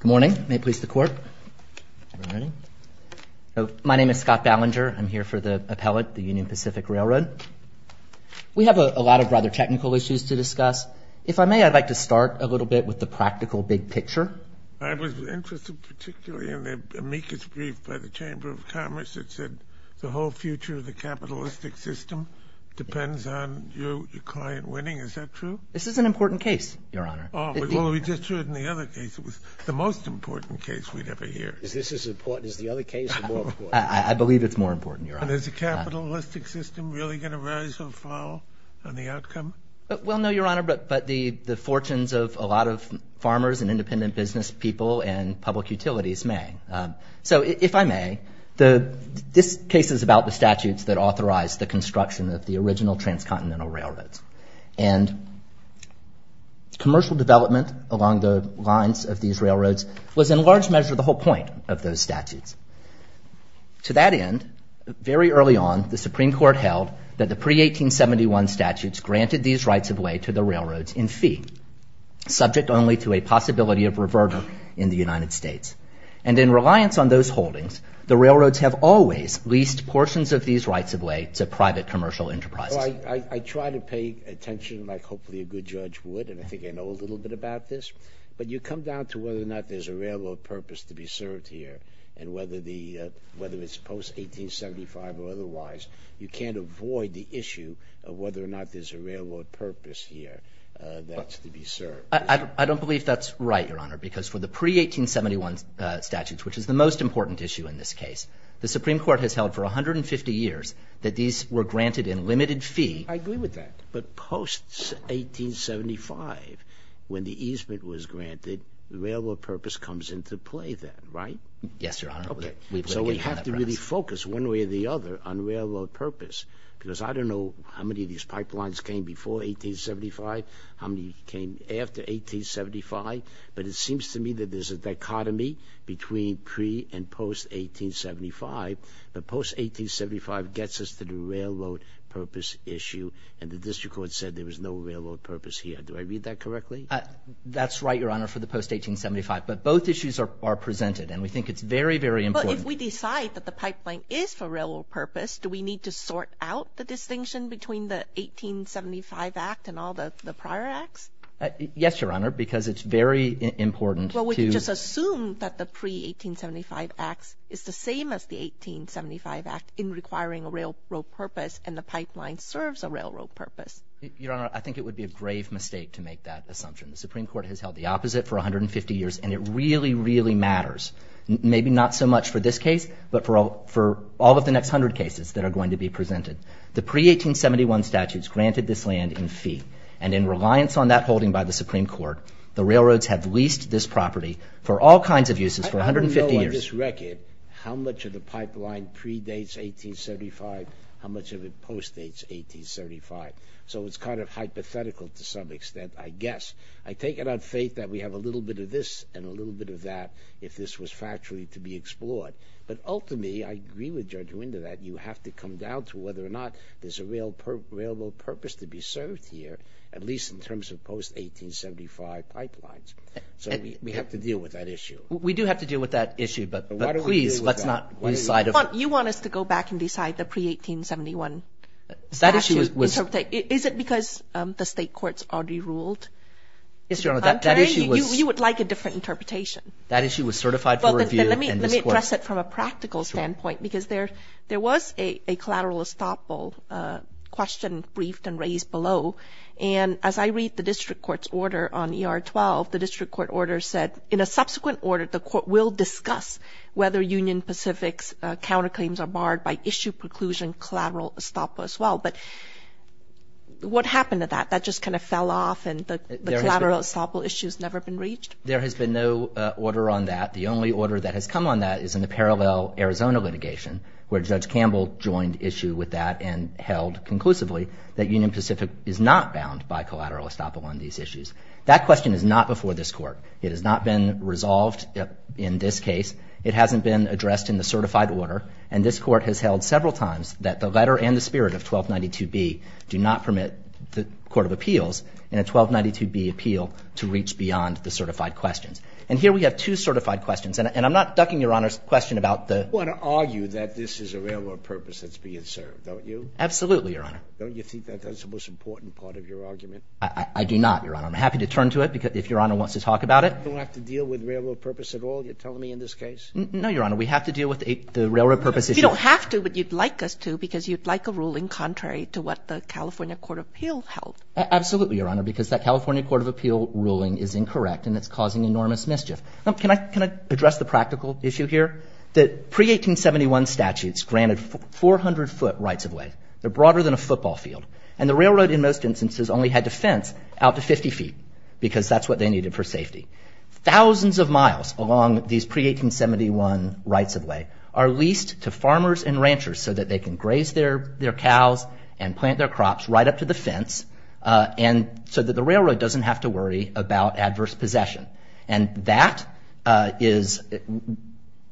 Good morning. May it please the court. My name is Scott Ballinger. I'm here for the appellate, the Union Pacific Railroad. We have a lot of rather technical issues to discuss. If I may, I'd like to start a little bit with the practical big picture. I was interested particularly in the amicus brief by the Chamber of Commerce that said the whole future of the capitalistic system depends on your client winning. Is that true? This is an important case, Your Honor. Well, we just heard in the other case it was the most important case we'd ever hear. Is this as important as the other case or more important? I believe it's more important, Your Honor. And is the capitalistic system really going to rise or fall on the outcome? Well, no, Your Honor, but the fortunes of a lot of farmers and independent business people and public utilities may. So if I may, this case is about the statutes that authorize the construction of the original transcontinental railroads. And commercial development along the lines of these railroads was in large measure the whole point of those statutes. To that end, very early on, the Supreme Court held that the pre-1871 statutes granted these rights of way to the railroads in fee, subject only to a possibility of reverter in the United States. And in reliance on those holdings, the railroads have always leased portions of these rights of way to private commercial enterprises. Well, I try to pay attention like hopefully a good judge would, and I think I know a little bit about this. But you come down to whether or not there's a railroad purpose to be served here and whether it's post-1875 or otherwise. You can't avoid the issue of whether or not there's a railroad purpose here that's to be served. I don't believe that's right, Your Honor, because for the pre-1871 statutes, which is the most important issue in this case, the Supreme Court has held for 150 years that these were granted in limited fee. I agree with that. But post-1875, when the easement was granted, the railroad purpose comes into play then, right? Yes, Your Honor. Okay. So we have to really focus one way or the other on railroad purpose because I don't know how many of these pipelines came before 1875, how many came after 1875, but it seems to me that there's a dichotomy between pre- and post-1875. But post-1875 gets us to the railroad purpose issue, and the district court said there was no railroad purpose here. Do I read that correctly? That's right, Your Honor, for the post-1875. But both issues are presented, and we think it's very, very important. But if we decide that the pipeline is for railroad purpose, do we need to sort out the distinction between the 1875 act and all the prior acts? Yes, Your Honor, because it's very important to – Well, we can just assume that the pre-1875 acts is the same as the 1875 act in requiring a railroad purpose, and the pipeline serves a railroad purpose. Your Honor, I think it would be a grave mistake to make that assumption. The Supreme Court has held the opposite for 150 years, and it really, really matters. Maybe not so much for this case, but for all of the next 100 cases that are going to be presented. The pre-1871 statutes granted this land in fee, and in reliance on that holding by the Supreme Court, the railroads have leased this property for all kinds of uses for 150 years. I don't know on this record how much of the pipeline predates 1875, how much of it post-dates 1875. So it's kind of hypothetical to some extent, I guess. I take it on faith that we have a little bit of this and a little bit of that if this was factually to be explored. But ultimately, I agree with Judge Winder that you have to come down to whether or not there's a railroad purpose to be served here, at least in terms of post-1875 pipelines. So we have to deal with that issue. We do have to deal with that issue, but please let's not decide – You want us to go back and decide the pre-1871 statute? Is it because the state courts already ruled? You would like a different interpretation. That issue was certified for review. Let me address it from a practical standpoint, because there was a collateral estoppel question briefed and raised below. And as I read the district court's order on ER-12, the district court order said, in a subsequent order, the court will discuss whether Union Pacific's counterclaims are barred by issue preclusion collateral estoppel as well. But what happened to that? That just kind of fell off, and the collateral estoppel issue has never been reached? There has been no order on that. The only order that has come on that is in the parallel Arizona litigation, where Judge Campbell joined issue with that and held conclusively that Union Pacific is not bound by collateral estoppel on these issues. That question is not before this court. It has not been resolved in this case. It hasn't been addressed in the certified order. And this court has held several times that the letter and the spirit of 1292B do not permit the court of appeals in a 1292B appeal to reach beyond the certified questions. And here we have two certified questions. And I'm not ducking Your Honor's question about the — You want to argue that this is a railroad purpose that's being served, don't you? Absolutely, Your Honor. Don't you think that that's the most important part of your argument? I do not, Your Honor. I'm happy to turn to it if Your Honor wants to talk about it. You don't have to deal with railroad purpose at all, you're telling me, in this case? No, Your Honor. We have to deal with the railroad purpose issue. You don't have to, but you'd like us to because you'd like a ruling contrary to what the California court of appeal held. Absolutely, Your Honor, because that California court of appeal ruling is incorrect and it's causing enormous mischief. Can I address the practical issue here? The pre-1871 statutes granted 400-foot rights of way. They're broader than a football field. And the railroad in most instances only had to fence out to 50 feet because that's what they needed for safety. Thousands of miles along these pre-1871 rights of way are leased to farmers and ranchers so that they can graze their cows and plant their crops right up to the fence so that the railroad doesn't have to worry about adverse possession. And that is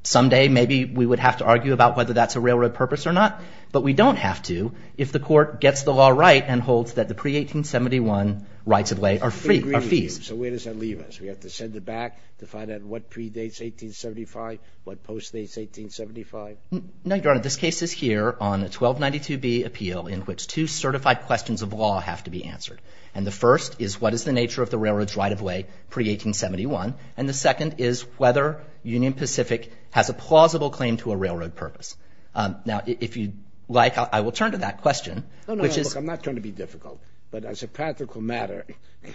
someday maybe we would have to argue about whether that's a railroad purpose or not, but we don't have to if the court gets the law right and holds that the pre-1871 rights of way are fees. So where does that leave us? We have to send it back to find out what predates 1875, what postdates 1875? No, Your Honor. This case is here on the 1292B appeal in which two certified questions of law have to be answered. And the first is what is the nature of the railroad's right of way pre-1871, and the second is whether Union Pacific has a plausible claim to a railroad purpose. Now, if you'd like, I will turn to that question. I'm not trying to be difficult. But as a practical matter,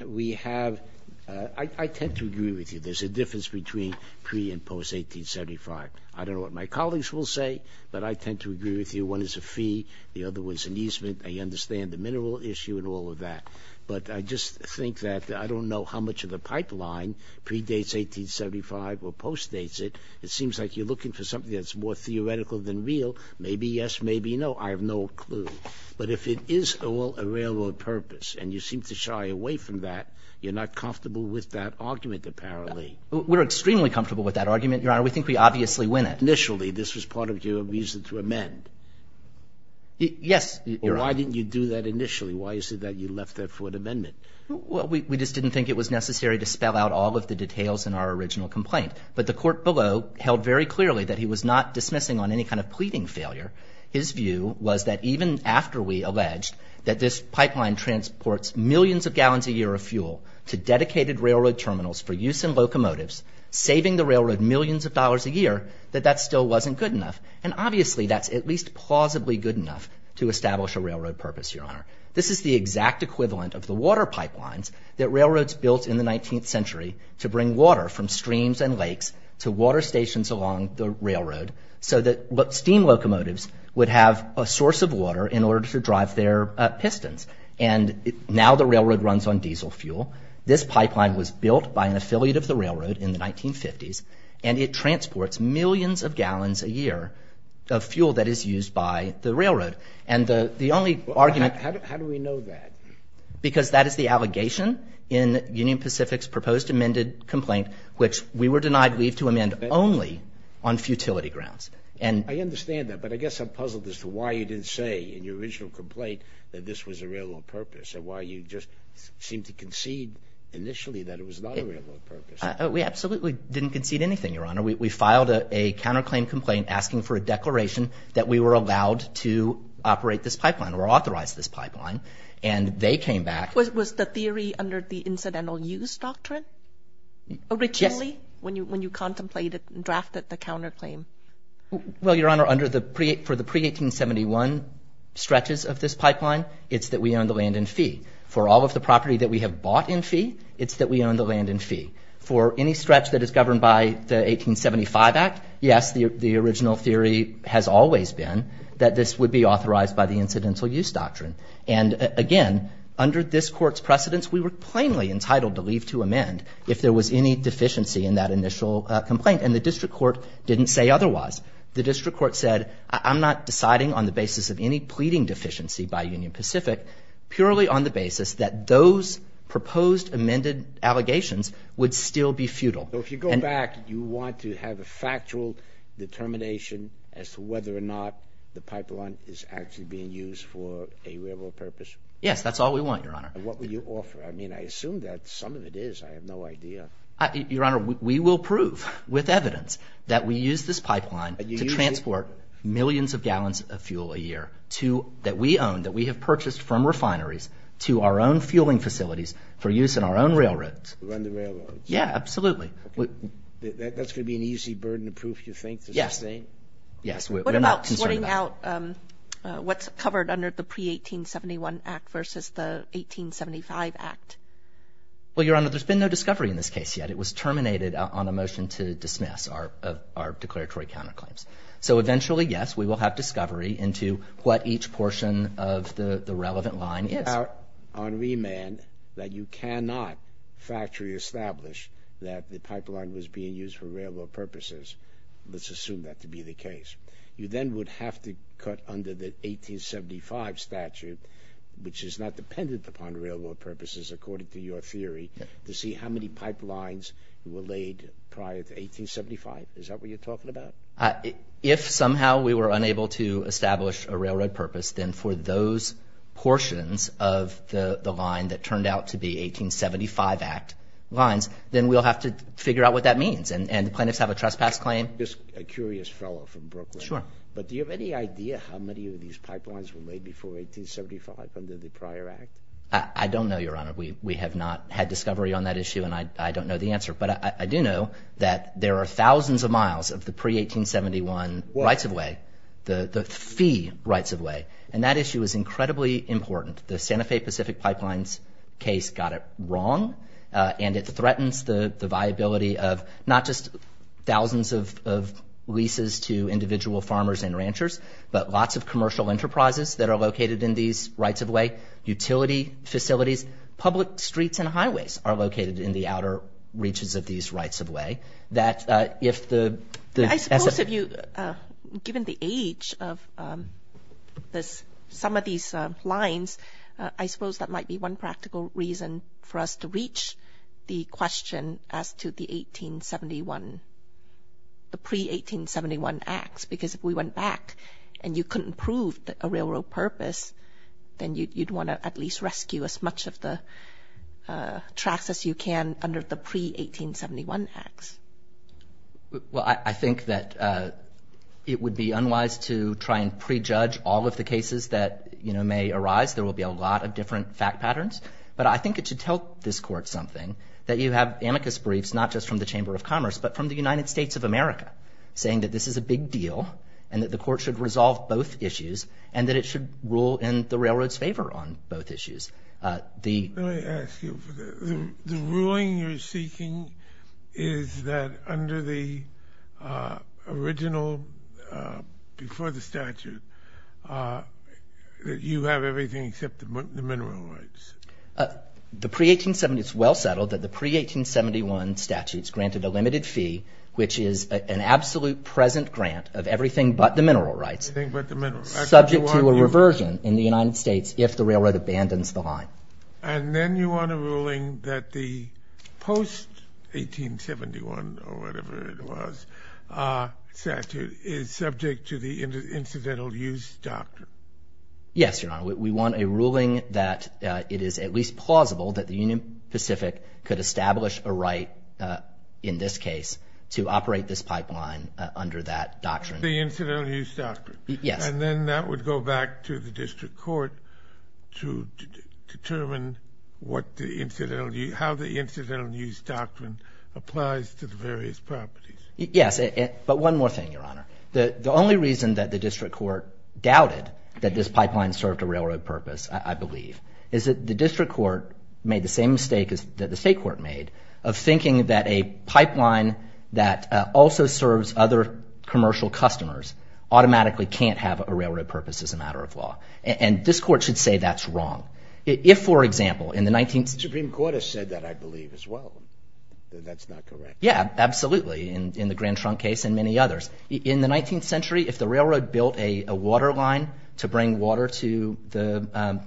we have – I tend to agree with you. There's a difference between pre- and post-1875. I don't know what my colleagues will say, but I tend to agree with you. One is a fee. The other one is an easement. I understand the mineral issue and all of that. But I just think that I don't know how much of the pipeline predates 1875 or postdates it. It seems like you're looking for something that's more theoretical than real. Maybe yes, maybe no. I have no clue. But if it is a railroad purpose and you seem to shy away from that, you're not comfortable with that argument, apparently. We're extremely comfortable with that argument, Your Honor. We think we obviously win it. Initially, this was part of your reason to amend. Yes, Your Honor. Why didn't you do that initially? Why is it that you left that for an amendment? Well, we just didn't think it was necessary to spell out all of the details in our original complaint. But the court below held very clearly that he was not dismissing on any kind of pleading failure. His view was that even after we alleged that this pipeline transports millions of gallons a year of fuel to dedicated railroad terminals for use in locomotives, saving the railroad millions of dollars a year, that that still wasn't good enough. And obviously that's at least plausibly good enough to establish a railroad purpose, Your Honor. This is the exact equivalent of the water pipelines that railroads built in the 19th century to bring water from streams and lakes to water stations along the railroad so that steam locomotives would have a source of water in order to drive their pistons. And now the railroad runs on diesel fuel. This pipeline was built by an affiliate of the railroad in the 1950s, and it transports millions of gallons a year of fuel that is used by the railroad. And the only argument— How do we know that? Because that is the allegation in Union Pacific's proposed amended complaint, which we were denied leave to amend only on futility grounds. I understand that, but I guess I'm puzzled as to why you didn't say in your original complaint that this was a railroad purpose, and why you just seemed to concede initially that it was not a railroad purpose. We absolutely didn't concede anything, Your Honor. We filed a counterclaim complaint asking for a declaration that we were allowed to operate this pipeline or authorize this pipeline, and they came back— Was the theory under the incidental use doctrine? Originally, when you contemplated and drafted the counterclaim? Well, Your Honor, for the pre-1871 stretches of this pipeline, it's that we own the land in fee. For all of the property that we have bought in fee, it's that we own the land in fee. For any stretch that is governed by the 1875 Act, yes, the original theory has always been that this would be authorized by the incidental use doctrine. And again, under this Court's precedence, we were plainly entitled to leave to amend if there was any deficiency in that initial complaint, and the district court didn't say otherwise. The district court said, I'm not deciding on the basis of any pleading deficiency by Union Pacific, purely on the basis that those proposed amended allegations would still be futile. So if you go back, you want to have a factual determination as to whether or not the pipeline is actually being used for a railroad purpose? Yes, that's all we want, Your Honor. And what will you offer? I mean, I assume that some of it is. I have no idea. Your Honor, we will prove with evidence that we use this pipeline to transport millions of gallons of fuel a year that we own, that we have purchased from refineries to our own fueling facilities for use in our own railroads. To run the railroads. Yeah, absolutely. That's going to be an easy burden to prove, you think, to sustain? Yes. What about sorting out what's covered under the pre-1871 Act versus the 1875 Act? Well, Your Honor, there's been no discovery in this case yet. It was terminated on a motion to dismiss our declaratory counterclaims. So eventually, yes, we will have discovery into what each portion of the relevant line is. On remand, that you cannot factory establish that the pipeline was being used for railroad purposes, let's assume that to be the case. You then would have to cut under the 1875 statute, which is not dependent upon railroad purposes, according to your theory, to see how many pipelines were laid prior to 1875. Is that what you're talking about? If somehow we were unable to establish a railroad purpose, then for those portions of the line that turned out to be 1875 Act lines, then we'll have to figure out what that means. And the plaintiffs have a trespass claim. Just a curious fellow from Brooklyn. Sure. But do you have any idea how many of these pipelines were laid before 1875 under the prior Act? I don't know, Your Honor. We have not had discovery on that issue, and I don't know the answer. But I do know that there are thousands of miles of the pre-1871 rights-of-way, the fee rights-of-way, and that issue is incredibly important. The Santa Fe Pacific Pipelines case got it wrong, and it threatens the viability of not just thousands of leases to individual farmers and ranchers, but lots of commercial enterprises that are located in these rights-of-way, utility facilities, public streets and highways are located in the outer reaches of these rights-of-way. I suppose if you, given the age of some of these lines, I suppose that might be one practical reason for us to reach the question as to the 1871, the pre-1871 Acts, because if we went back and you couldn't prove a railroad purpose, then you'd want to at least rescue as much of the tracks as you can under the pre-1871 Acts. Well, I think that it would be unwise to try and prejudge all of the cases that may arise. There will be a lot of different fact patterns. But I think it should tell this Court something, that you have amicus briefs not just from the Chamber of Commerce, but from the United States of America, saying that this is a big deal and that the Court should resolve both issues and that it should rule in the railroad's favor on both issues. Let me ask you, the ruling you're seeking is that under the original, before the statute, that you have everything except the mineral rights. It's well settled that the pre-1871 statutes granted a limited fee, which is an absolute present grant of everything but the mineral rights, subject to a reversion in the United States if the railroad abandons the line. And then you want a ruling that the post-1871, or whatever it was, statute is subject to the incidental use doctrine. Yes, Your Honor. We want a ruling that it is at least plausible that the Union Pacific could establish a right, in this case, to operate this pipeline under that doctrine. The incidental use doctrine. Yes. And then that would go back to the District Court to determine how the incidental use doctrine applies to the various properties. Yes. But one more thing, Your Honor. The only reason that the District Court doubted that this pipeline served a railroad purpose, I believe, is that the District Court made the same mistake that the State Court made of thinking that a pipeline that also serves other commercial customers automatically can't have a railroad purpose as a matter of law. And this Court should say that's wrong. If, for example, in the 19th— The Supreme Court has said that, I believe, as well. That that's not correct. Yeah, absolutely, in the Grand Trunk case and many others. In the 19th century, if the railroad built a water line to bring water to the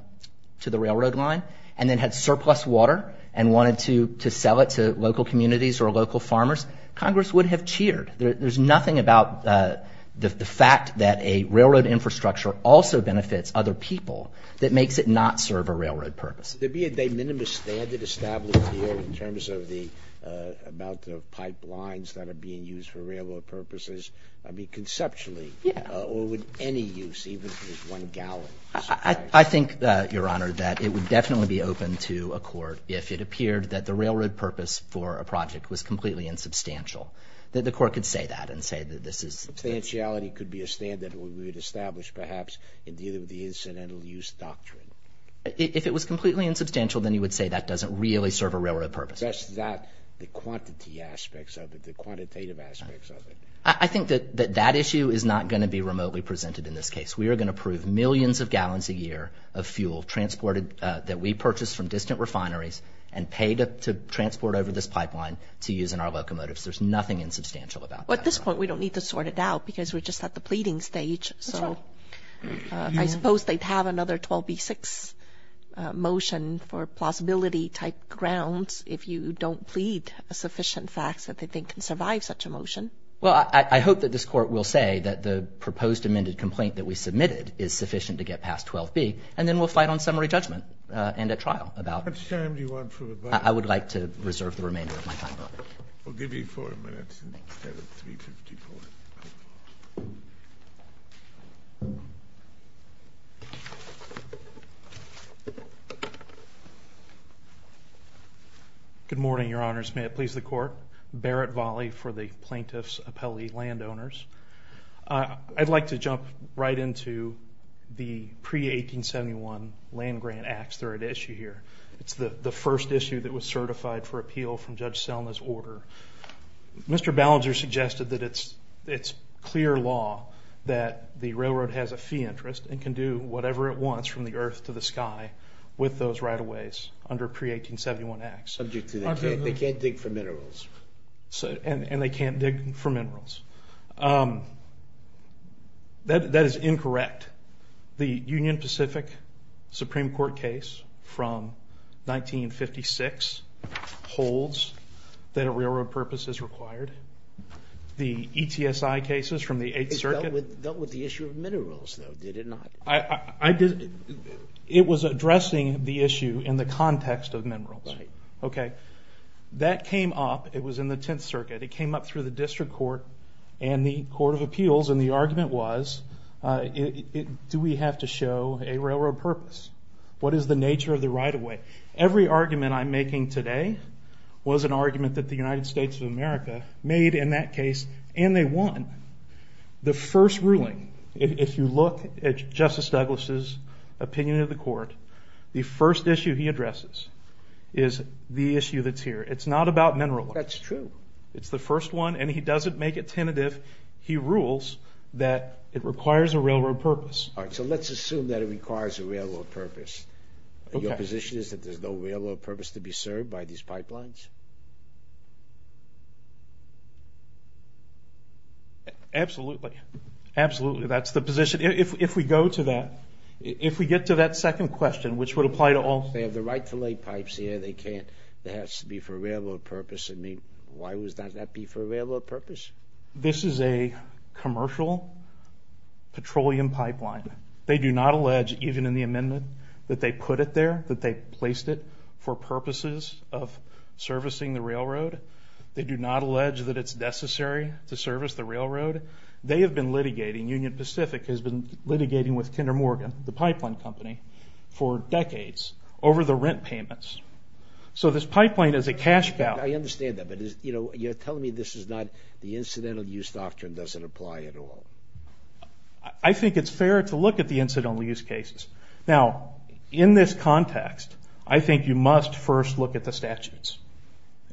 railroad line and then had surplus water and wanted to sell it to local communities or local farmers, Congress would have cheered. There's nothing about the fact that a railroad infrastructure also benefits other people that makes it not serve a railroad purpose. Would there be a de minimis standard established here in terms of the amount of pipelines that are being used for railroad purposes? I mean, conceptually. Yeah. Or would any use, even if it was one gallon? I think, Your Honor, that it would definitely be open to a court if it appeared that the railroad purpose for a project was completely insubstantial. That the court could say that and say that this is— Substantiality could be a standard we would establish, perhaps, in dealing with the incidental use doctrine. If it was completely insubstantial, then you would say that doesn't really serve a railroad purpose. That's not the quantity aspects of it, the quantitative aspects of it. I think that that issue is not going to be remotely presented in this case. We are going to prove millions of gallons a year of fuel transported that we purchased from distant refineries and paid to transport over this pipeline to use in our locomotives. There's nothing insubstantial about that. Well, at this point, we don't need to sort it out because we're just at the pleading stage. That's right. I suppose they'd have another 12b-6 motion for plausibility-type grounds if you don't plead sufficient facts that they think can survive such a motion. Well, I hope that this Court will say that the proposed amended complaint that we submitted is sufficient to get past 12b, and then we'll fight on summary judgment and at trial about— How much time do you want for rebuttal? I would like to reserve the remainder of my time. We'll give you 4 minutes instead of 3.54. Thank you. Good morning, Your Honors. May it please the Court? Barrett Volley for the Plaintiffs' Appellee Landowners. I'd like to jump right into the pre-1871 Land-Grant Act's third issue here. It's the first issue that was certified for appeal from Judge Selma's order. Mr. Ballinger suggested that it's clear law that the railroad has a fee interest and can do whatever it wants from the earth to the sky with those right-of-ways under pre-1871 acts. Subject to that, they can't dig for minerals. And they can't dig for minerals. That is incorrect. The Union Pacific Supreme Court case from 1956 holds that a railroad purpose is required. The ETSI cases from the Eighth Circuit— It dealt with the issue of minerals, though, did it not? It was addressing the issue in the context of minerals. Right. Okay. That came up. It was in the Tenth Circuit. It came up through the District Court and the Court of Appeals. And the argument was, do we have to show a railroad purpose? What is the nature of the right-of-way? Every argument I'm making today was an argument that the United States of America made in that case, and they won. The first ruling, if you look at Justice Douglas' opinion of the court, the first issue he addresses is the issue that's here. It's not about mineral law. That's true. It's the first one, and he doesn't make it tentative. He rules that it requires a railroad purpose. All right, so let's assume that it requires a railroad purpose. Your position is that there's no railroad purpose to be served by these pipelines? Absolutely. Absolutely, that's the position. If we go to that, if we get to that second question, which would apply to all. They have the right to lay pipes here. They can't. It has to be for a railroad purpose. Why would that not be for a railroad purpose? This is a commercial petroleum pipeline. They do not allege, even in the amendment, that they put it there, that they placed it for purposes of servicing the railroad. They do not allege that it's necessary to service the railroad. They have been litigating, Union Pacific has been litigating with Kinder Morgan, the pipeline company, for decades over the rent payments. So this pipeline is a cash cow. I understand that, but you're telling me this is not, the incidental use doctrine doesn't apply at all. I think it's fair to look at the incidental use cases. Now, in this context, I think you must first look at the statutes,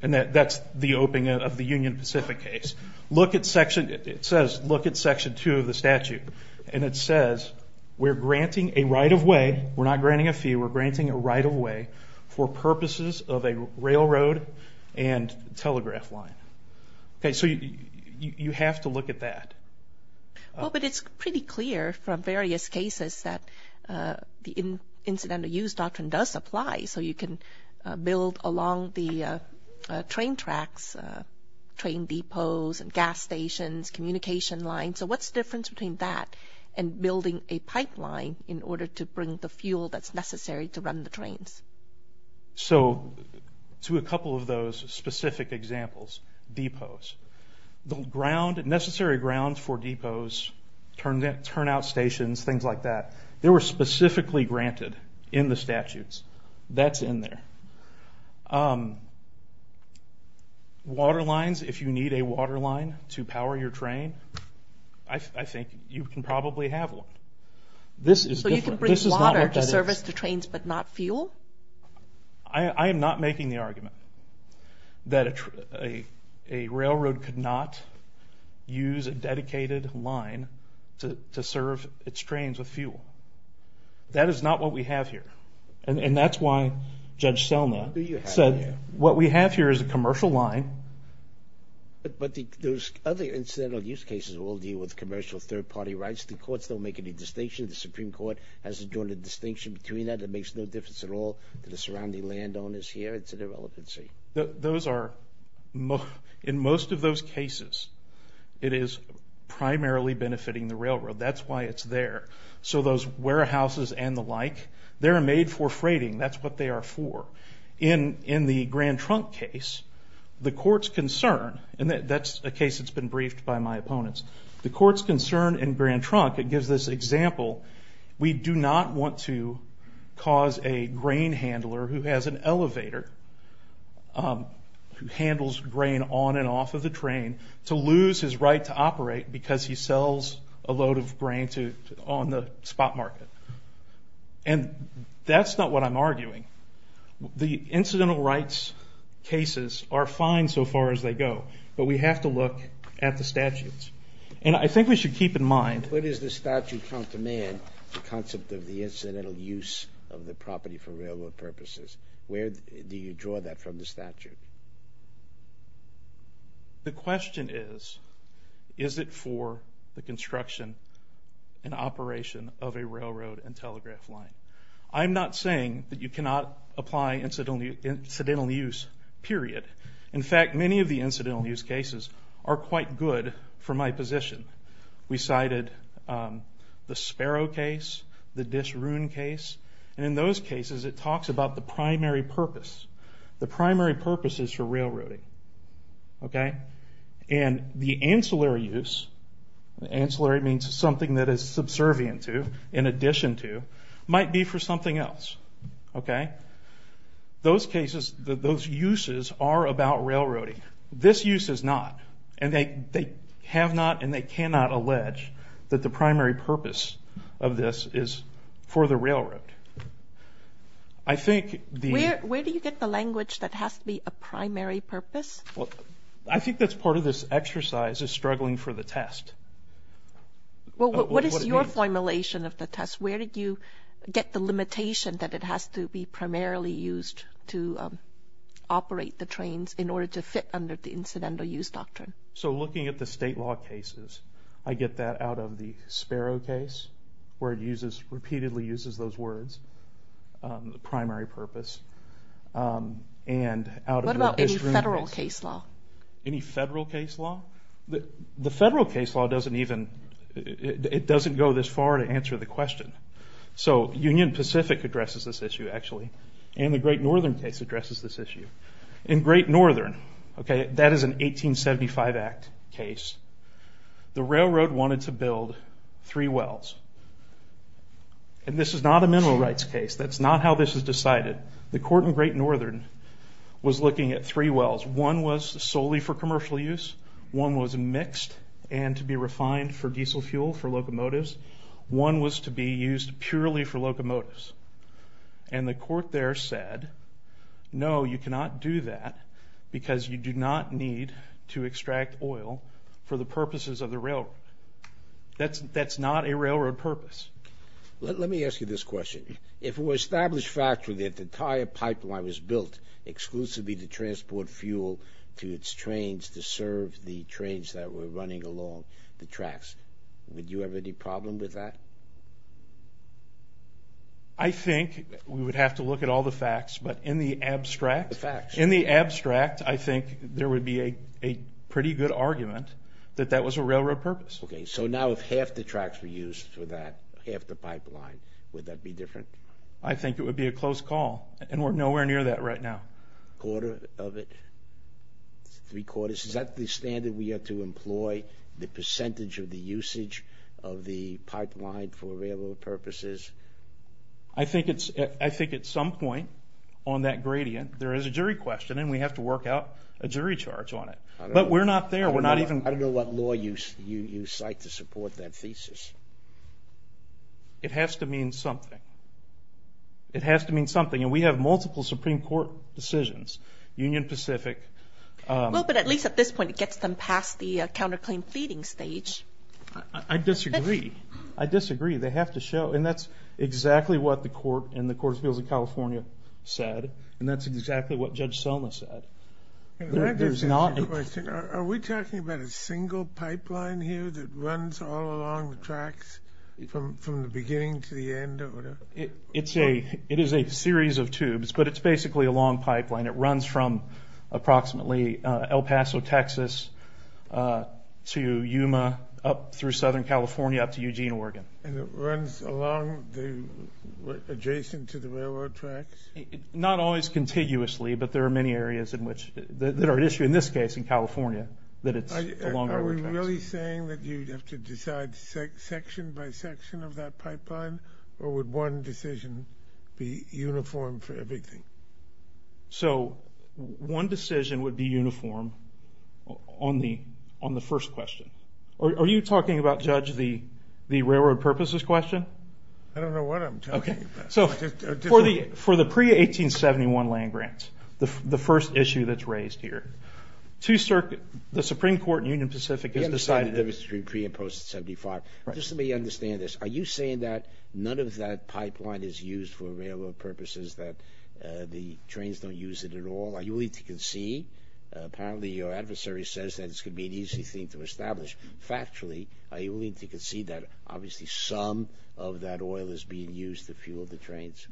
and that's the opening of the Union Pacific case. It says look at Section 2 of the statute, and it says we're granting a right of way. We're not granting a fee. We're granting a right of way for purposes of a railroad and telegraph line. So you have to look at that. But it's pretty clear from various cases that the incidental use doctrine does apply, so you can build along the train tracks, train depots and gas stations, communication lines. So what's the difference between that and building a pipeline in order to bring the fuel that's necessary to run the trains? So to a couple of those specific examples, depots. The necessary grounds for depots, turnout stations, things like that, they were specifically granted in the statutes. That's in there. Water lines, if you need a water line to power your train, I think you can probably have one. So you can bring water to service the trains but not fuel? I am not making the argument that a railroad could not use a dedicated line to serve its trains with fuel. That is not what we have here, and that's why Judge Selma said what we have here is a commercial line. But those other incidental use cases all deal with commercial third-party rights. The courts don't make any distinction. The Supreme Court hasn't drawn a distinction between that. It makes no difference at all to the surrounding landowners here. It's an irrelevancy. In most of those cases, it is primarily benefiting the railroad. That's why it's there. So those warehouses and the like, they're made for freighting. That's what they are for. In the Grand Trunk case, the court's concern, and that's a case that's been briefed by my opponents, the court's concern in Grand Trunk, it gives this example, we do not want to cause a grain handler who has an elevator, who handles grain on and off of the train, to lose his right to operate because he sells a load of grain on the spot market. And that's not what I'm arguing. The incidental rights cases are fine so far as they go, but we have to look at the statutes. And I think we should keep in mind. What is the statute from command, the concept of the incidental use of the property for railroad purposes? Where do you draw that from, the statute? The question is, is it for the construction and operation of a railroad and telegraph line? I'm not saying that you cannot apply incidental use, period. In fact, many of the incidental use cases are quite good for my position. We cited the Sparrow case, the Disroon case, and in those cases it talks about the primary purpose. The primary purpose is for railroading. And the ancillary use, ancillary means something that is subservient to, in addition to, might be for something else. Those cases, those uses are about railroading. This use is not. And they have not and they cannot allege that the primary purpose of this is for the railroad. Where do you get the language that has to be a primary purpose? I think that's part of this exercise is struggling for the test. What is your formulation of the test? Where did you get the limitation that it has to be primarily used to operate the trains in order to fit under the incidental use doctrine? So looking at the state law cases, I get that out of the Sparrow case, where it repeatedly uses those words, the primary purpose. What about any federal case law? Any federal case law? The federal case law doesn't even, it doesn't go this far to answer the question. So Union Pacific addresses this issue, actually, and the Great Northern case addresses this issue. In Great Northern, that is an 1875 Act case, the railroad wanted to build three wells. And this is not a mineral rights case. That's not how this is decided. The court in Great Northern was looking at three wells. One was solely for commercial use. One was mixed and to be refined for diesel fuel for locomotives. One was to be used purely for locomotives. And the court there said, no, you cannot do that because you do not need to extract oil for the purposes of the railroad. That's not a railroad purpose. Let me ask you this question. If it were established factually that the entire pipeline was built exclusively to transport fuel to its trains to serve the trains that were running along the tracks, would you have any problem with that? I think we would have to look at all the facts, but in the abstract, in the abstract, I think there would be a pretty good argument that that was a railroad purpose. Okay, so now if half the tracks were used for that, half the pipeline, would that be different? I think it would be a close call, and we're nowhere near that right now. A quarter of it? Three quarters? Is that the standard we have to employ, the percentage of the usage of the pipeline for railroad purposes? I think at some point on that gradient, there is a jury question, and we have to work out a jury charge on it. But we're not there. I don't know what law you cite to support that thesis. It has to mean something. It has to mean something, and we have multiple Supreme Court decisions, Union Pacific. Well, but at least at this point, it gets them past the counterclaim pleading stage. I disagree. I disagree. They have to show, and that's exactly what the court in the Courts of Appeals of California said, and that's exactly what Judge Selma said. I have a question. Are we talking about a single pipeline here that runs all along the tracks from the beginning to the end? It is a series of tubes, but it's basically a long pipeline. It runs from approximately El Paso, Texas, to Yuma, up through Southern California, up to Eugene, Oregon. And it runs along adjacent to the railroad tracks? Not always contiguously, but there are many areas that are at issue in this case in California that it's along our tracks. Are we really saying that you'd have to decide section by section of that pipeline, or would one decision be uniform for everything? So one decision would be uniform on the first question. Are you talking about, Judge, the railroad purposes question? I don't know what I'm talking about. So for the pre-1871 land grants, the first issue that's raised here, the Supreme Court in Union Pacific has decided that it was pre- and post-1875. Just let me understand this. Are you saying that none of that pipeline is used for railroad purposes, that the trains don't use it at all? Are you willing to concede? Apparently your adversary says that this could be an easy thing to establish. Factually, are you willing to concede that obviously some of that oil is being used to fuel the trains?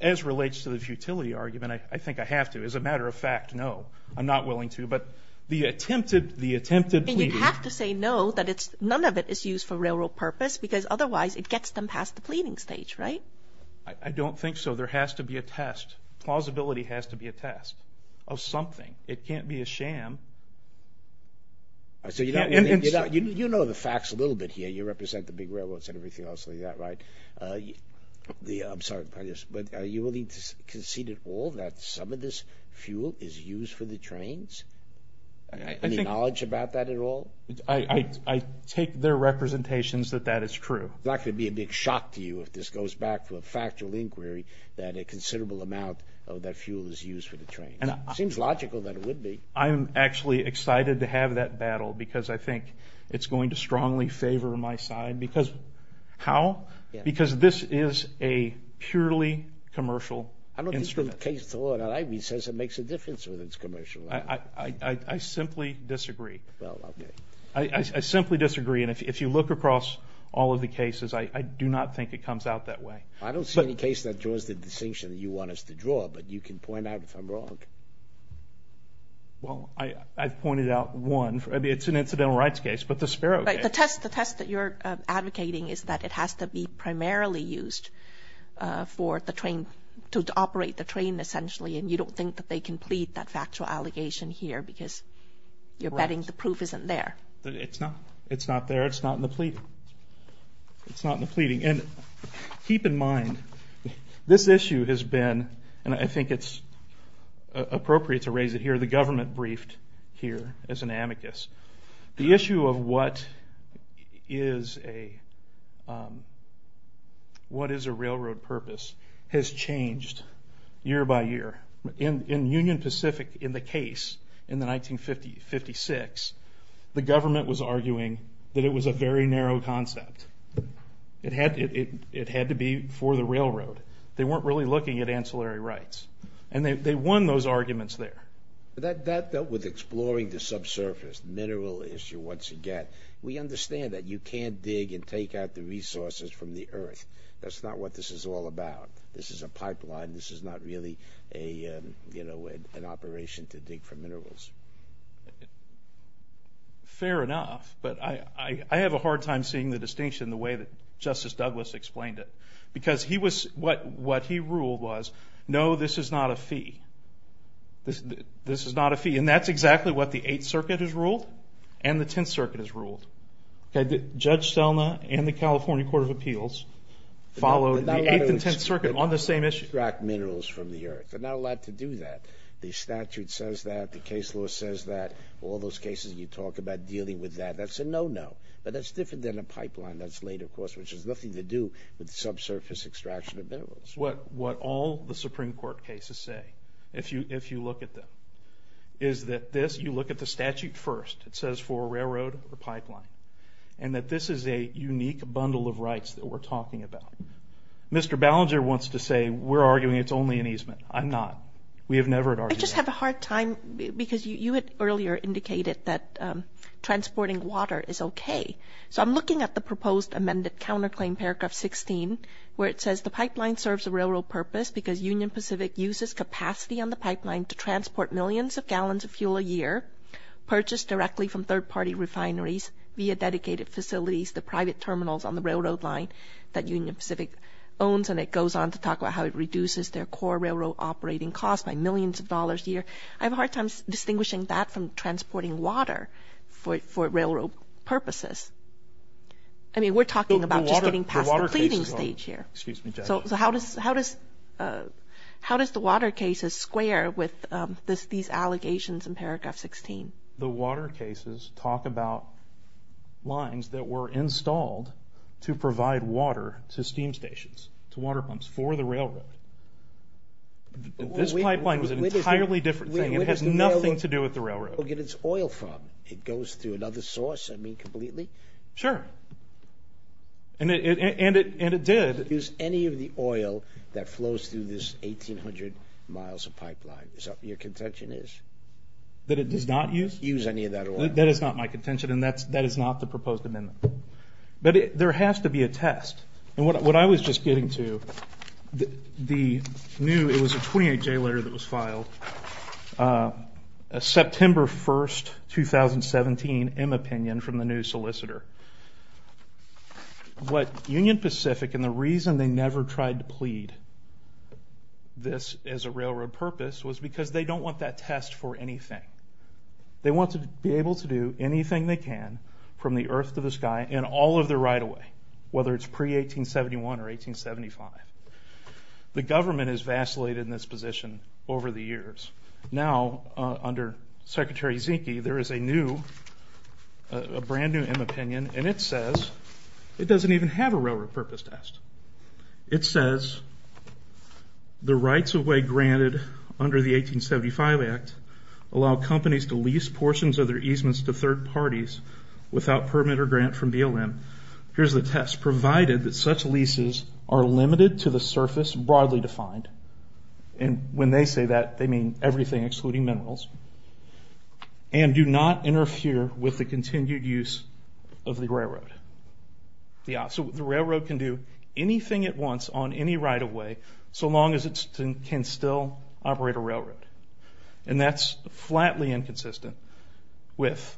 As relates to the futility argument, I think I have to. As a matter of fact, no, I'm not willing to. But the attempted pleading – And you'd have to say no, that none of it is used for railroad purpose, because otherwise it gets them past the pleading stage, right? I don't think so. There has to be a test. Plausibility has to be a test of something. It can't be a sham. So you know the facts a little bit here. You represent the big railroads and everything else like that, right? I'm sorry, but are you willing to concede at all that some of this fuel is used for the trains? Any knowledge about that at all? I take their representations that that is true. It's not going to be a big shock to you if this goes back to a factual inquiry that a considerable amount of that fuel is used for the trains. It seems logical that it would be. I'm actually excited to have that battle, because I think it's going to strongly favor my side. How? Because this is a purely commercial instrument. I don't think the case at all that I read says it makes a difference whether it's commercial or not. I simply disagree. Well, okay. I simply disagree. And if you look across all of the cases, I do not think it comes out that way. I don't see any case that draws the distinction that you want us to draw, but you can point out if I'm wrong. Well, I've pointed out one. It's an incidental rights case, but the Sparrow case. The test that you're advocating is that it has to be primarily used for the train, to operate the train essentially, and you don't think that they can plead that factual allegation here because you're betting the proof isn't there. It's not. It's not there. It's not in the pleading. It's not in the pleading. Keep in mind, this issue has been, and I think it's appropriate to raise it here, the government briefed here as an amicus. The issue of what is a railroad purpose has changed year by year. In Union Pacific, in the case in 1956, the government was arguing that it was a very narrow concept. It had to be for the railroad. They weren't really looking at ancillary rights, and they won those arguments there. That dealt with exploring the subsurface mineral issue once again. We understand that you can't dig and take out the resources from the earth. That's not what this is all about. This is a pipeline. This is not really an operation to dig for minerals. Fair enough, but I have a hard time seeing the distinction the way that Justice Douglas explained it because what he ruled was, no, this is not a fee. This is not a fee, and that's exactly what the Eighth Circuit has ruled and the Tenth Circuit has ruled. Judge Selma and the California Court of Appeals followed the Eighth and Tenth Circuit on the same issue. They're not allowed to extract minerals from the earth. They're not allowed to do that. The statute says that. The case law says that. All those cases you talk about dealing with that, that's a no-no, but that's different than a pipeline. That's laid across, which has nothing to do with subsurface extraction of minerals. What all the Supreme Court cases say, if you look at them, is that this, you look at the statute first. It says for railroad or pipeline, and that this is a unique bundle of rights that we're talking about. Mr. Ballinger wants to say we're arguing it's only an easement. I'm not. We have never argued that. We just have a hard time because you had earlier indicated that transporting water is okay. So I'm looking at the proposed amended counterclaim, paragraph 16, where it says the pipeline serves a railroad purpose because Union Pacific uses capacity on the pipeline to transport millions of gallons of fuel a year, purchased directly from third-party refineries via dedicated facilities, the private terminals on the railroad line that Union Pacific owns, and it goes on to talk about how it reduces their core railroad operating costs by millions of dollars a year. I have a hard time distinguishing that from transporting water for railroad purposes. I mean, we're talking about just getting past the pleading stage here. So how does the water cases square with these allegations in paragraph 16? The water cases talk about lines that were installed to provide water to steam stations, to water pumps for the railroad. This pipeline was an entirely different thing. It has nothing to do with the railroad. Where does the railroad get its oil from? It goes through another source, I mean, completely? Sure. And it did. Does it use any of the oil that flows through this 1,800 miles of pipeline? Your contention is? That it does not use? Use any of that oil. That is not my contention, and that is not the proposed amendment. But there has to be a test. And what I was just getting to, the new, it was a 28-J letter that was filed, a September 1, 2017 M opinion from the new solicitor. What Union Pacific, and the reason they never tried to plead this as a railroad purpose, was because they don't want that test for anything. They want to be able to do anything they can from the earth to the sky in all of their right-of-way, whether it's pre-1871 or 1875. The government has vacillated in this position over the years. Now, under Secretary Zinke, there is a new, a brand-new M opinion, and it says it doesn't even have a railroad purpose test. It says the rights-of-way granted under the 1875 Act allow companies to lease portions of their easements to third parties without permit or grant from BLM. Here's the test. Provided that such leases are limited to the surface, broadly defined, and when they say that, they mean everything excluding minerals, and do not interfere with the continued use of the railroad. So the railroad can do anything it wants on any right-of-way, so long as it can still operate a railroad. And that's flatly inconsistent with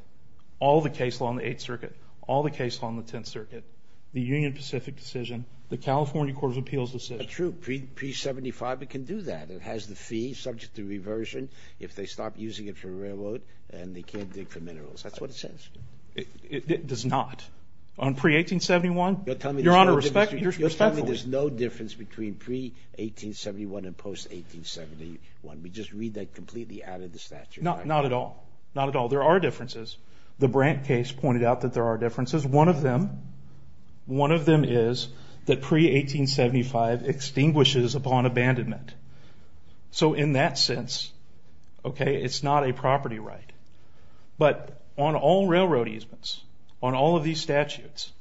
all the case law on the Eighth Circuit, all the case law on the Tenth Circuit, the Union Pacific decision, the California Court of Appeals decision. True. Pre-1875, it can do that. It has the fee subject to reversion if they stop using it for a railroad and they can't dig for minerals. That's what it says. It does not. On pre-1871? Your Honor, respectfully. There's no difference between pre-1871 and post-1871. We just read that completely out of the statute. Not at all. Not at all. There are differences. The Brant case pointed out that there are differences. One of them is that pre-1875 extinguishes upon abandonment. So in that sense, okay, it's not a property right. But on all railroad easements, on all of these statutes,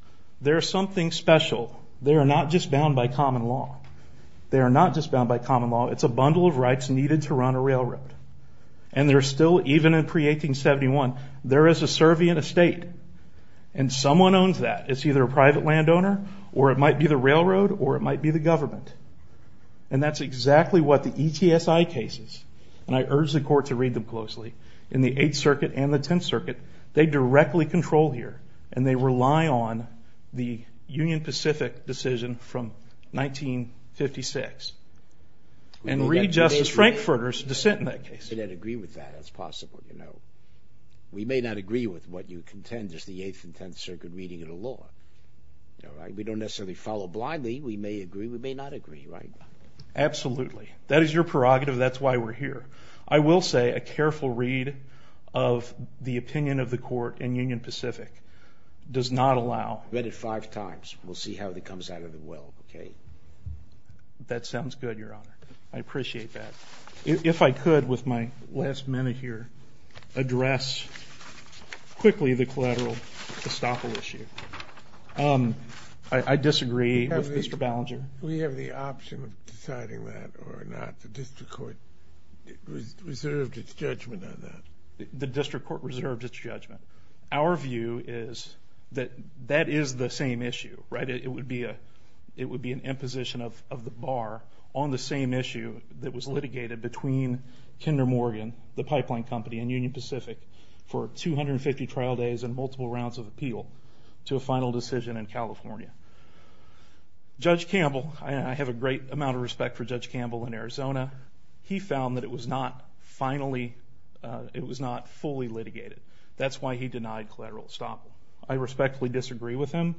there is something special. They are not just bound by common law. They are not just bound by common law. It's a bundle of rights needed to run a railroad. And there's still, even in pre-1871, there is a servient estate. And someone owns that. It's either a private landowner or it might be the railroad or it might be the government. And that's exactly what the ETSI cases, and I urge the Court to read them closely, in the Eighth Circuit and the Tenth Circuit, they directly control here and they rely on the Union Pacific decision from 1956. And read Justice Frankfurter's dissent in that case. We may not agree with that. That's possible, you know. We may not agree with what you contend is the Eighth and Tenth Circuit reading of the law. We don't necessarily follow blindly. We may agree. We may not agree, right? Absolutely. That is your prerogative. That's why we're here. I will say a careful read of the opinion of the Court in Union Pacific does not allow. Read it five times. We'll see how it comes out of the well, okay? That sounds good, Your Honor. I appreciate that. If I could, with my last minute here, address quickly the collateral estoppel issue. I disagree with Mr. Ballinger. Do we have the option of deciding that or not? The district court reserved its judgment on that. The district court reserved its judgment. Our view is that that is the same issue, right? It would be an imposition of the bar on the same issue that was litigated between Kinder Morgan, the pipeline company, and Union Pacific for 250 trial days and multiple rounds of appeal to a final decision in California. Judge Campbell, I have a great amount of respect for Judge Campbell in Arizona. He found that it was not fully litigated. That's why he denied collateral estoppel. I respectfully disagree with him.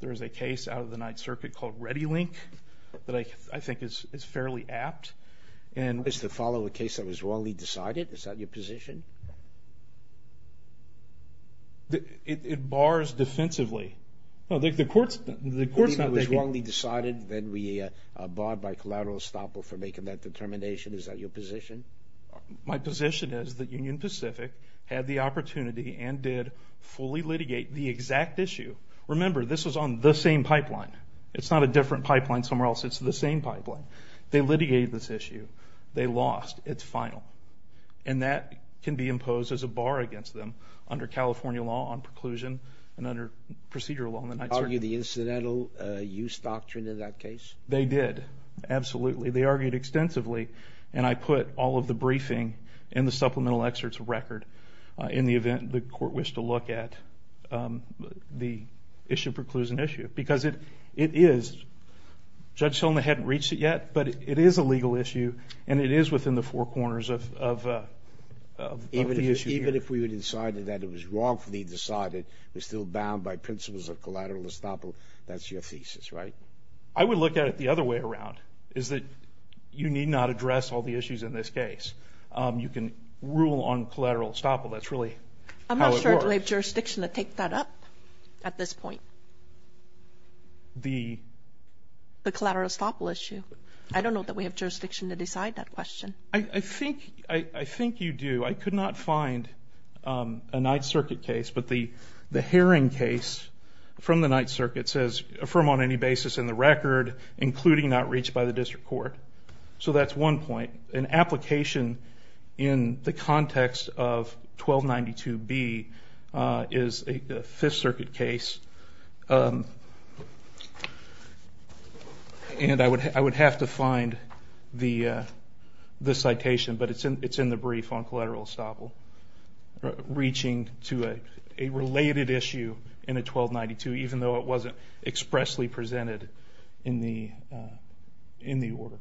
There is a case out of the Ninth Circuit called ReadyLink that I think is fairly apt. Is the follow-up case that was wrongly decided? Is that your position? It bars defensively. The court's not taking it. It was wrongly decided, then we barred by collateral estoppel for making that determination. Is that your position? My position is that Union Pacific had the opportunity and did fully litigate the exact issue. Remember, this was on the same pipeline. It's not a different pipeline somewhere else. It's the same pipeline. They litigated this issue. They lost its final, and that can be imposed as a bar against them under California law on preclusion and under procedural law in the Ninth Circuit. Argued the incidental use doctrine in that case? They did, absolutely. They argued extensively, and I put all of the briefing in the supplemental excerpt's record in the event the court wished to look at the issue preclusion issue, because it is... Judge Tillman hadn't reached it yet, but it is a legal issue, and it is within the four corners of the issue here. Even if we had decided that it was wrongfully decided, we're still bound by principles of collateral estoppel, that's your thesis, right? I would look at it the other way around, is that you need not address all the issues in this case. You can rule on collateral estoppel. That's really how it works. I'm not sure that we have jurisdiction to take that up at this point. The...? The collateral estoppel issue. I don't know that we have jurisdiction to decide that question. I think you do. I could not find a Ninth Circuit case, but the hearing case from the Ninth Circuit says affirm on any basis in the record, including not reached by the district court. So that's one point. An application in the context of 1292B is a Fifth Circuit case, and I would have to find the citation, but it's in the brief on collateral estoppel, reaching to a related issue in a 1292, even though it wasn't expressly presented in the order.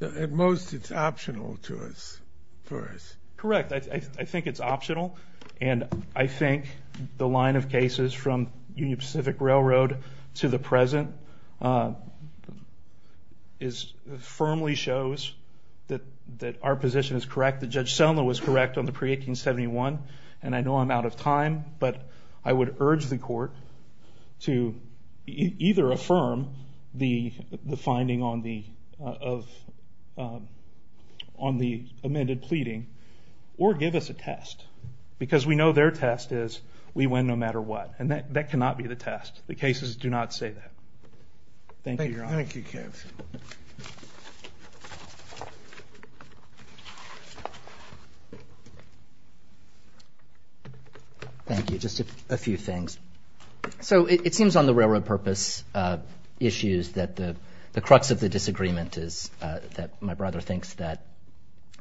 At most, it's optional to us, for us. Correct. I think it's optional, and I think the line of cases from Union Pacific Railroad to the present firmly shows that our position is correct. Judge Sellman was correct on the pre-1871, but I would urge the court to either affirm the finding on the amended pleading or give us a test, because we know their test is we win no matter what, and that cannot be the test. The cases do not say that. Thank you, Your Honor. Thank you, Kev. Thank you. Just a few things. So it seems on the railroad purpose issues that the crux of the disagreement is that my brother thinks that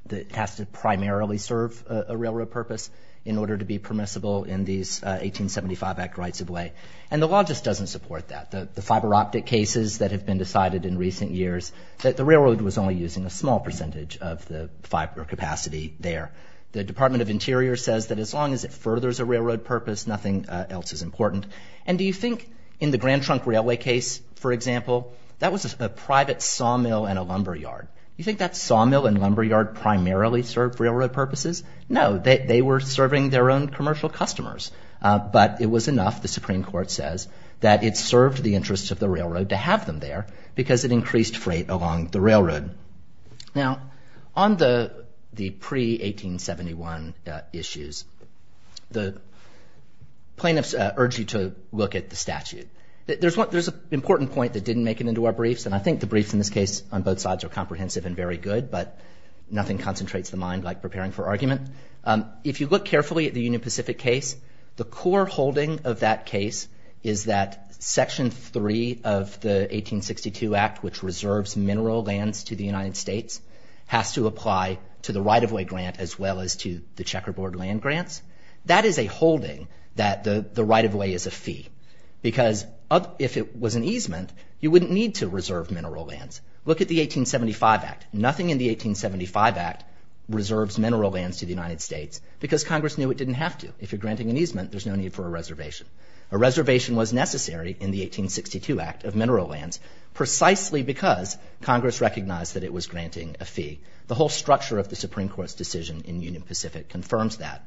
it has to primarily serve a railroad purpose in order to be permissible in these 1875 Act rights of way, and the law just doesn't support that. The fiber optic cases that have been decided in recent years, that the railroad was only using a small percentage of the fiber capacity there. The Department of Interior says that as long as it furthers a railroad purpose, nothing else is important. And do you think in the Grand Trunk Railway case, for example, that was a private sawmill and a lumberyard. You think that sawmill and lumberyard primarily served railroad purposes? No, they were serving their own commercial customers, but it was enough, the Supreme Court says, that it served the interests of the railroad to have them there because it increased freight along the railroad. Now, on the pre-1871 issues, the plaintiffs urge you to look at the statute. There's an important point that didn't make it into our briefs, and I think the briefs in this case on both sides are comprehensive and very good, but nothing concentrates the mind like preparing for argument. If you look carefully at the Union Pacific case, the core holding of that case is that Section 3 of the 1862 Act, which reserves mineral lands to the United States, has to apply to the right-of-way grant as well as to the checkerboard land grants. That is a holding that the right-of-way is a fee because if it was an easement, you wouldn't need to reserve mineral lands. Look at the 1875 Act. Nothing in the 1875 Act reserves mineral lands to the United States because Congress knew it didn't have to. If you're granting an easement, there's no need for a reservation. A reservation was necessary in the 1862 Act of mineral lands precisely because Congress recognized that it was granting a fee. The whole structure of the Supreme Court's decision in Union Pacific confirms that,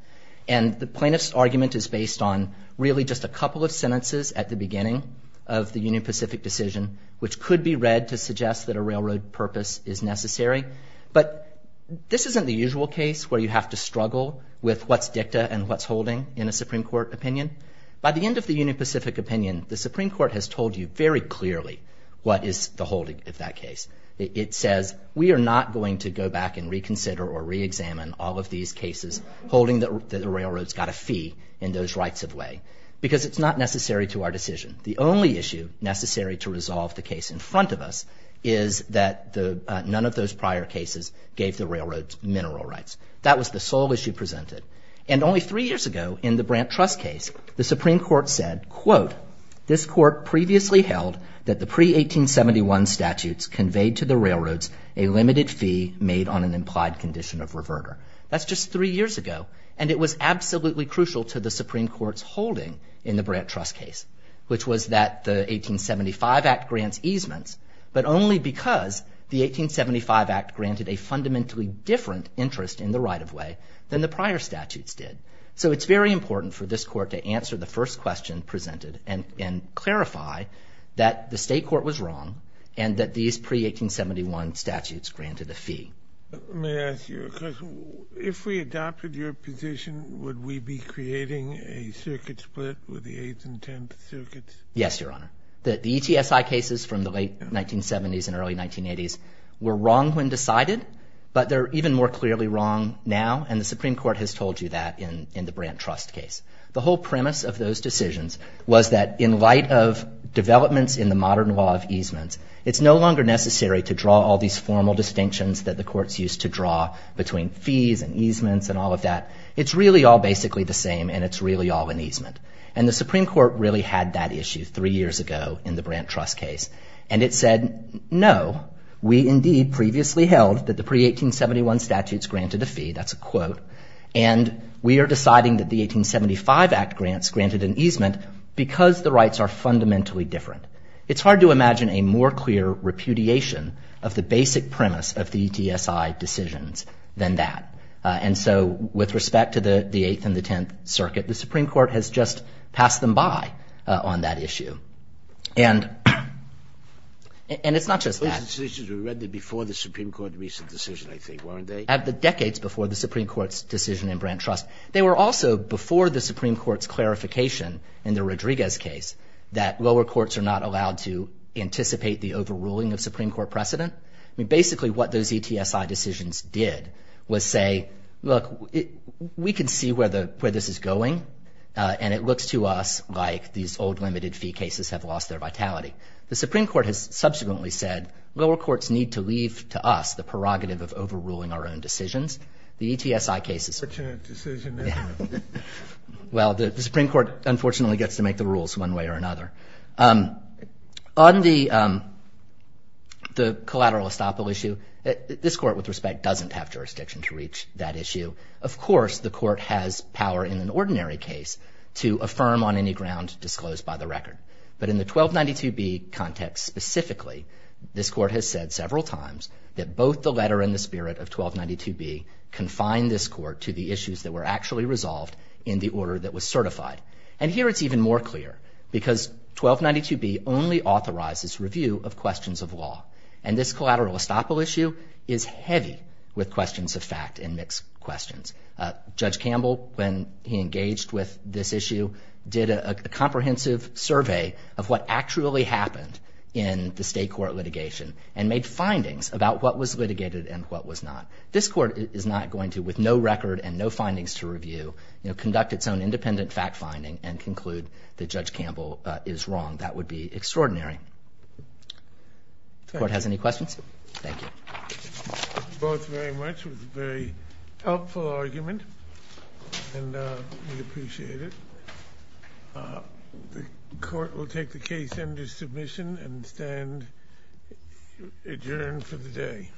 and the plaintiff's argument is based on really just a couple of sentences at the beginning of the Union Pacific decision, which could be read to suggest that a railroad purpose is necessary, but this isn't the usual case where you have to struggle with what's dicta and what's holding in a Supreme Court opinion. By the end of the Union Pacific opinion, the Supreme Court has told you very clearly what is the holding of that case. It says, we are not going to go back and reconsider or reexamine all of these cases holding that the railroads got a fee in those rights of way because it's not necessary to our decision. The only issue necessary to resolve the case in front of us is that none of those prior cases gave the railroads mineral rights. That was the sole issue presented. And only three years ago, in the Brant Trust case, the Supreme Court said, quote, this court previously held that the pre-1871 statutes conveyed to the railroads a limited fee made on an implied condition of reverter. That's just three years ago, and it was absolutely crucial to the Supreme Court's holding in the Brant Trust case, which was that the 1875 Act grants easements, but only because the 1875 Act granted a fundamentally different interest in the right of way than the prior statutes did. So it's very important for this court to answer the first question presented and clarify that the state court was wrong and that these pre-1871 statutes granted a fee. May I ask you a question? If we adopted your position, would we be creating a circuit split with the Eighth and Tenth Circuits? Yes, Your Honor. The ETSI cases from the late 1970s and early 1980s were wrong when decided, but they're even more clearly wrong now, and the Supreme Court has told you that in the Brant Trust case. The whole premise of those decisions was that in light of developments in the modern law of easements, it's no longer necessary to draw all these formal distinctions that the courts used to draw between fees and easements and all of that. It's really all basically the same, and it's really all an easement. And the Supreme Court really had that issue three years ago in the Brant Trust case, and it said, no, we indeed previously held that the pre-1871 statutes granted a fee. That's a quote. And we are deciding that the 1875 Act grants granted an easement because the rights are fundamentally different. It's hard to imagine a more clear repudiation of the basic premise of the ETSI decisions than that. And so with respect to the Eighth and the Tenth Circuit, the Supreme Court has just passed them by on that issue. And it's not just that. Those decisions were rendered before the Supreme Court reached a decision, I think, weren't they? Decades before the Supreme Court's decision in Brant Trust. They were also before the Supreme Court's clarification in the Rodriguez case that lower courts are not allowed to anticipate the overruling of Supreme Court precedent. I mean, basically what those ETSI decisions did was say, look, we can see where this is going, and it looks to us like these old limited-fee cases have lost their vitality. The Supreme Court has subsequently said lower courts need to leave to us the prerogative of overruling our own decisions. The ETSI cases... Well, the Supreme Court, unfortunately, gets to make the rules one way or another. On the collateral estoppel issue, this Court, with respect, doesn't have jurisdiction to reach that issue. Of course, the Court has power in an ordinary case to affirm on any ground disclosed by the record. But in the 1292b context specifically, this Court has said several times that both the letter and the spirit of 1292b confine this Court to the issues that were actually resolved in the order that was certified. And here it's even more clear, because 1292b only authorizes review of questions of law. And this collateral estoppel issue is heavy with questions of fact and mixed questions. Judge Campbell, when he engaged with this issue, did a comprehensive survey of what actually happened in the state court litigation and made findings about what was litigated and what was not. This Court is not going to, with no record and no findings to review, conduct its own independent fact-finding and conclude that Judge Campbell is wrong. That would be extraordinary. Court has any questions? Thank you. Both very much. It was a very helpful argument, and we appreciate it. The Court will take the case under submission and adjourn for the day.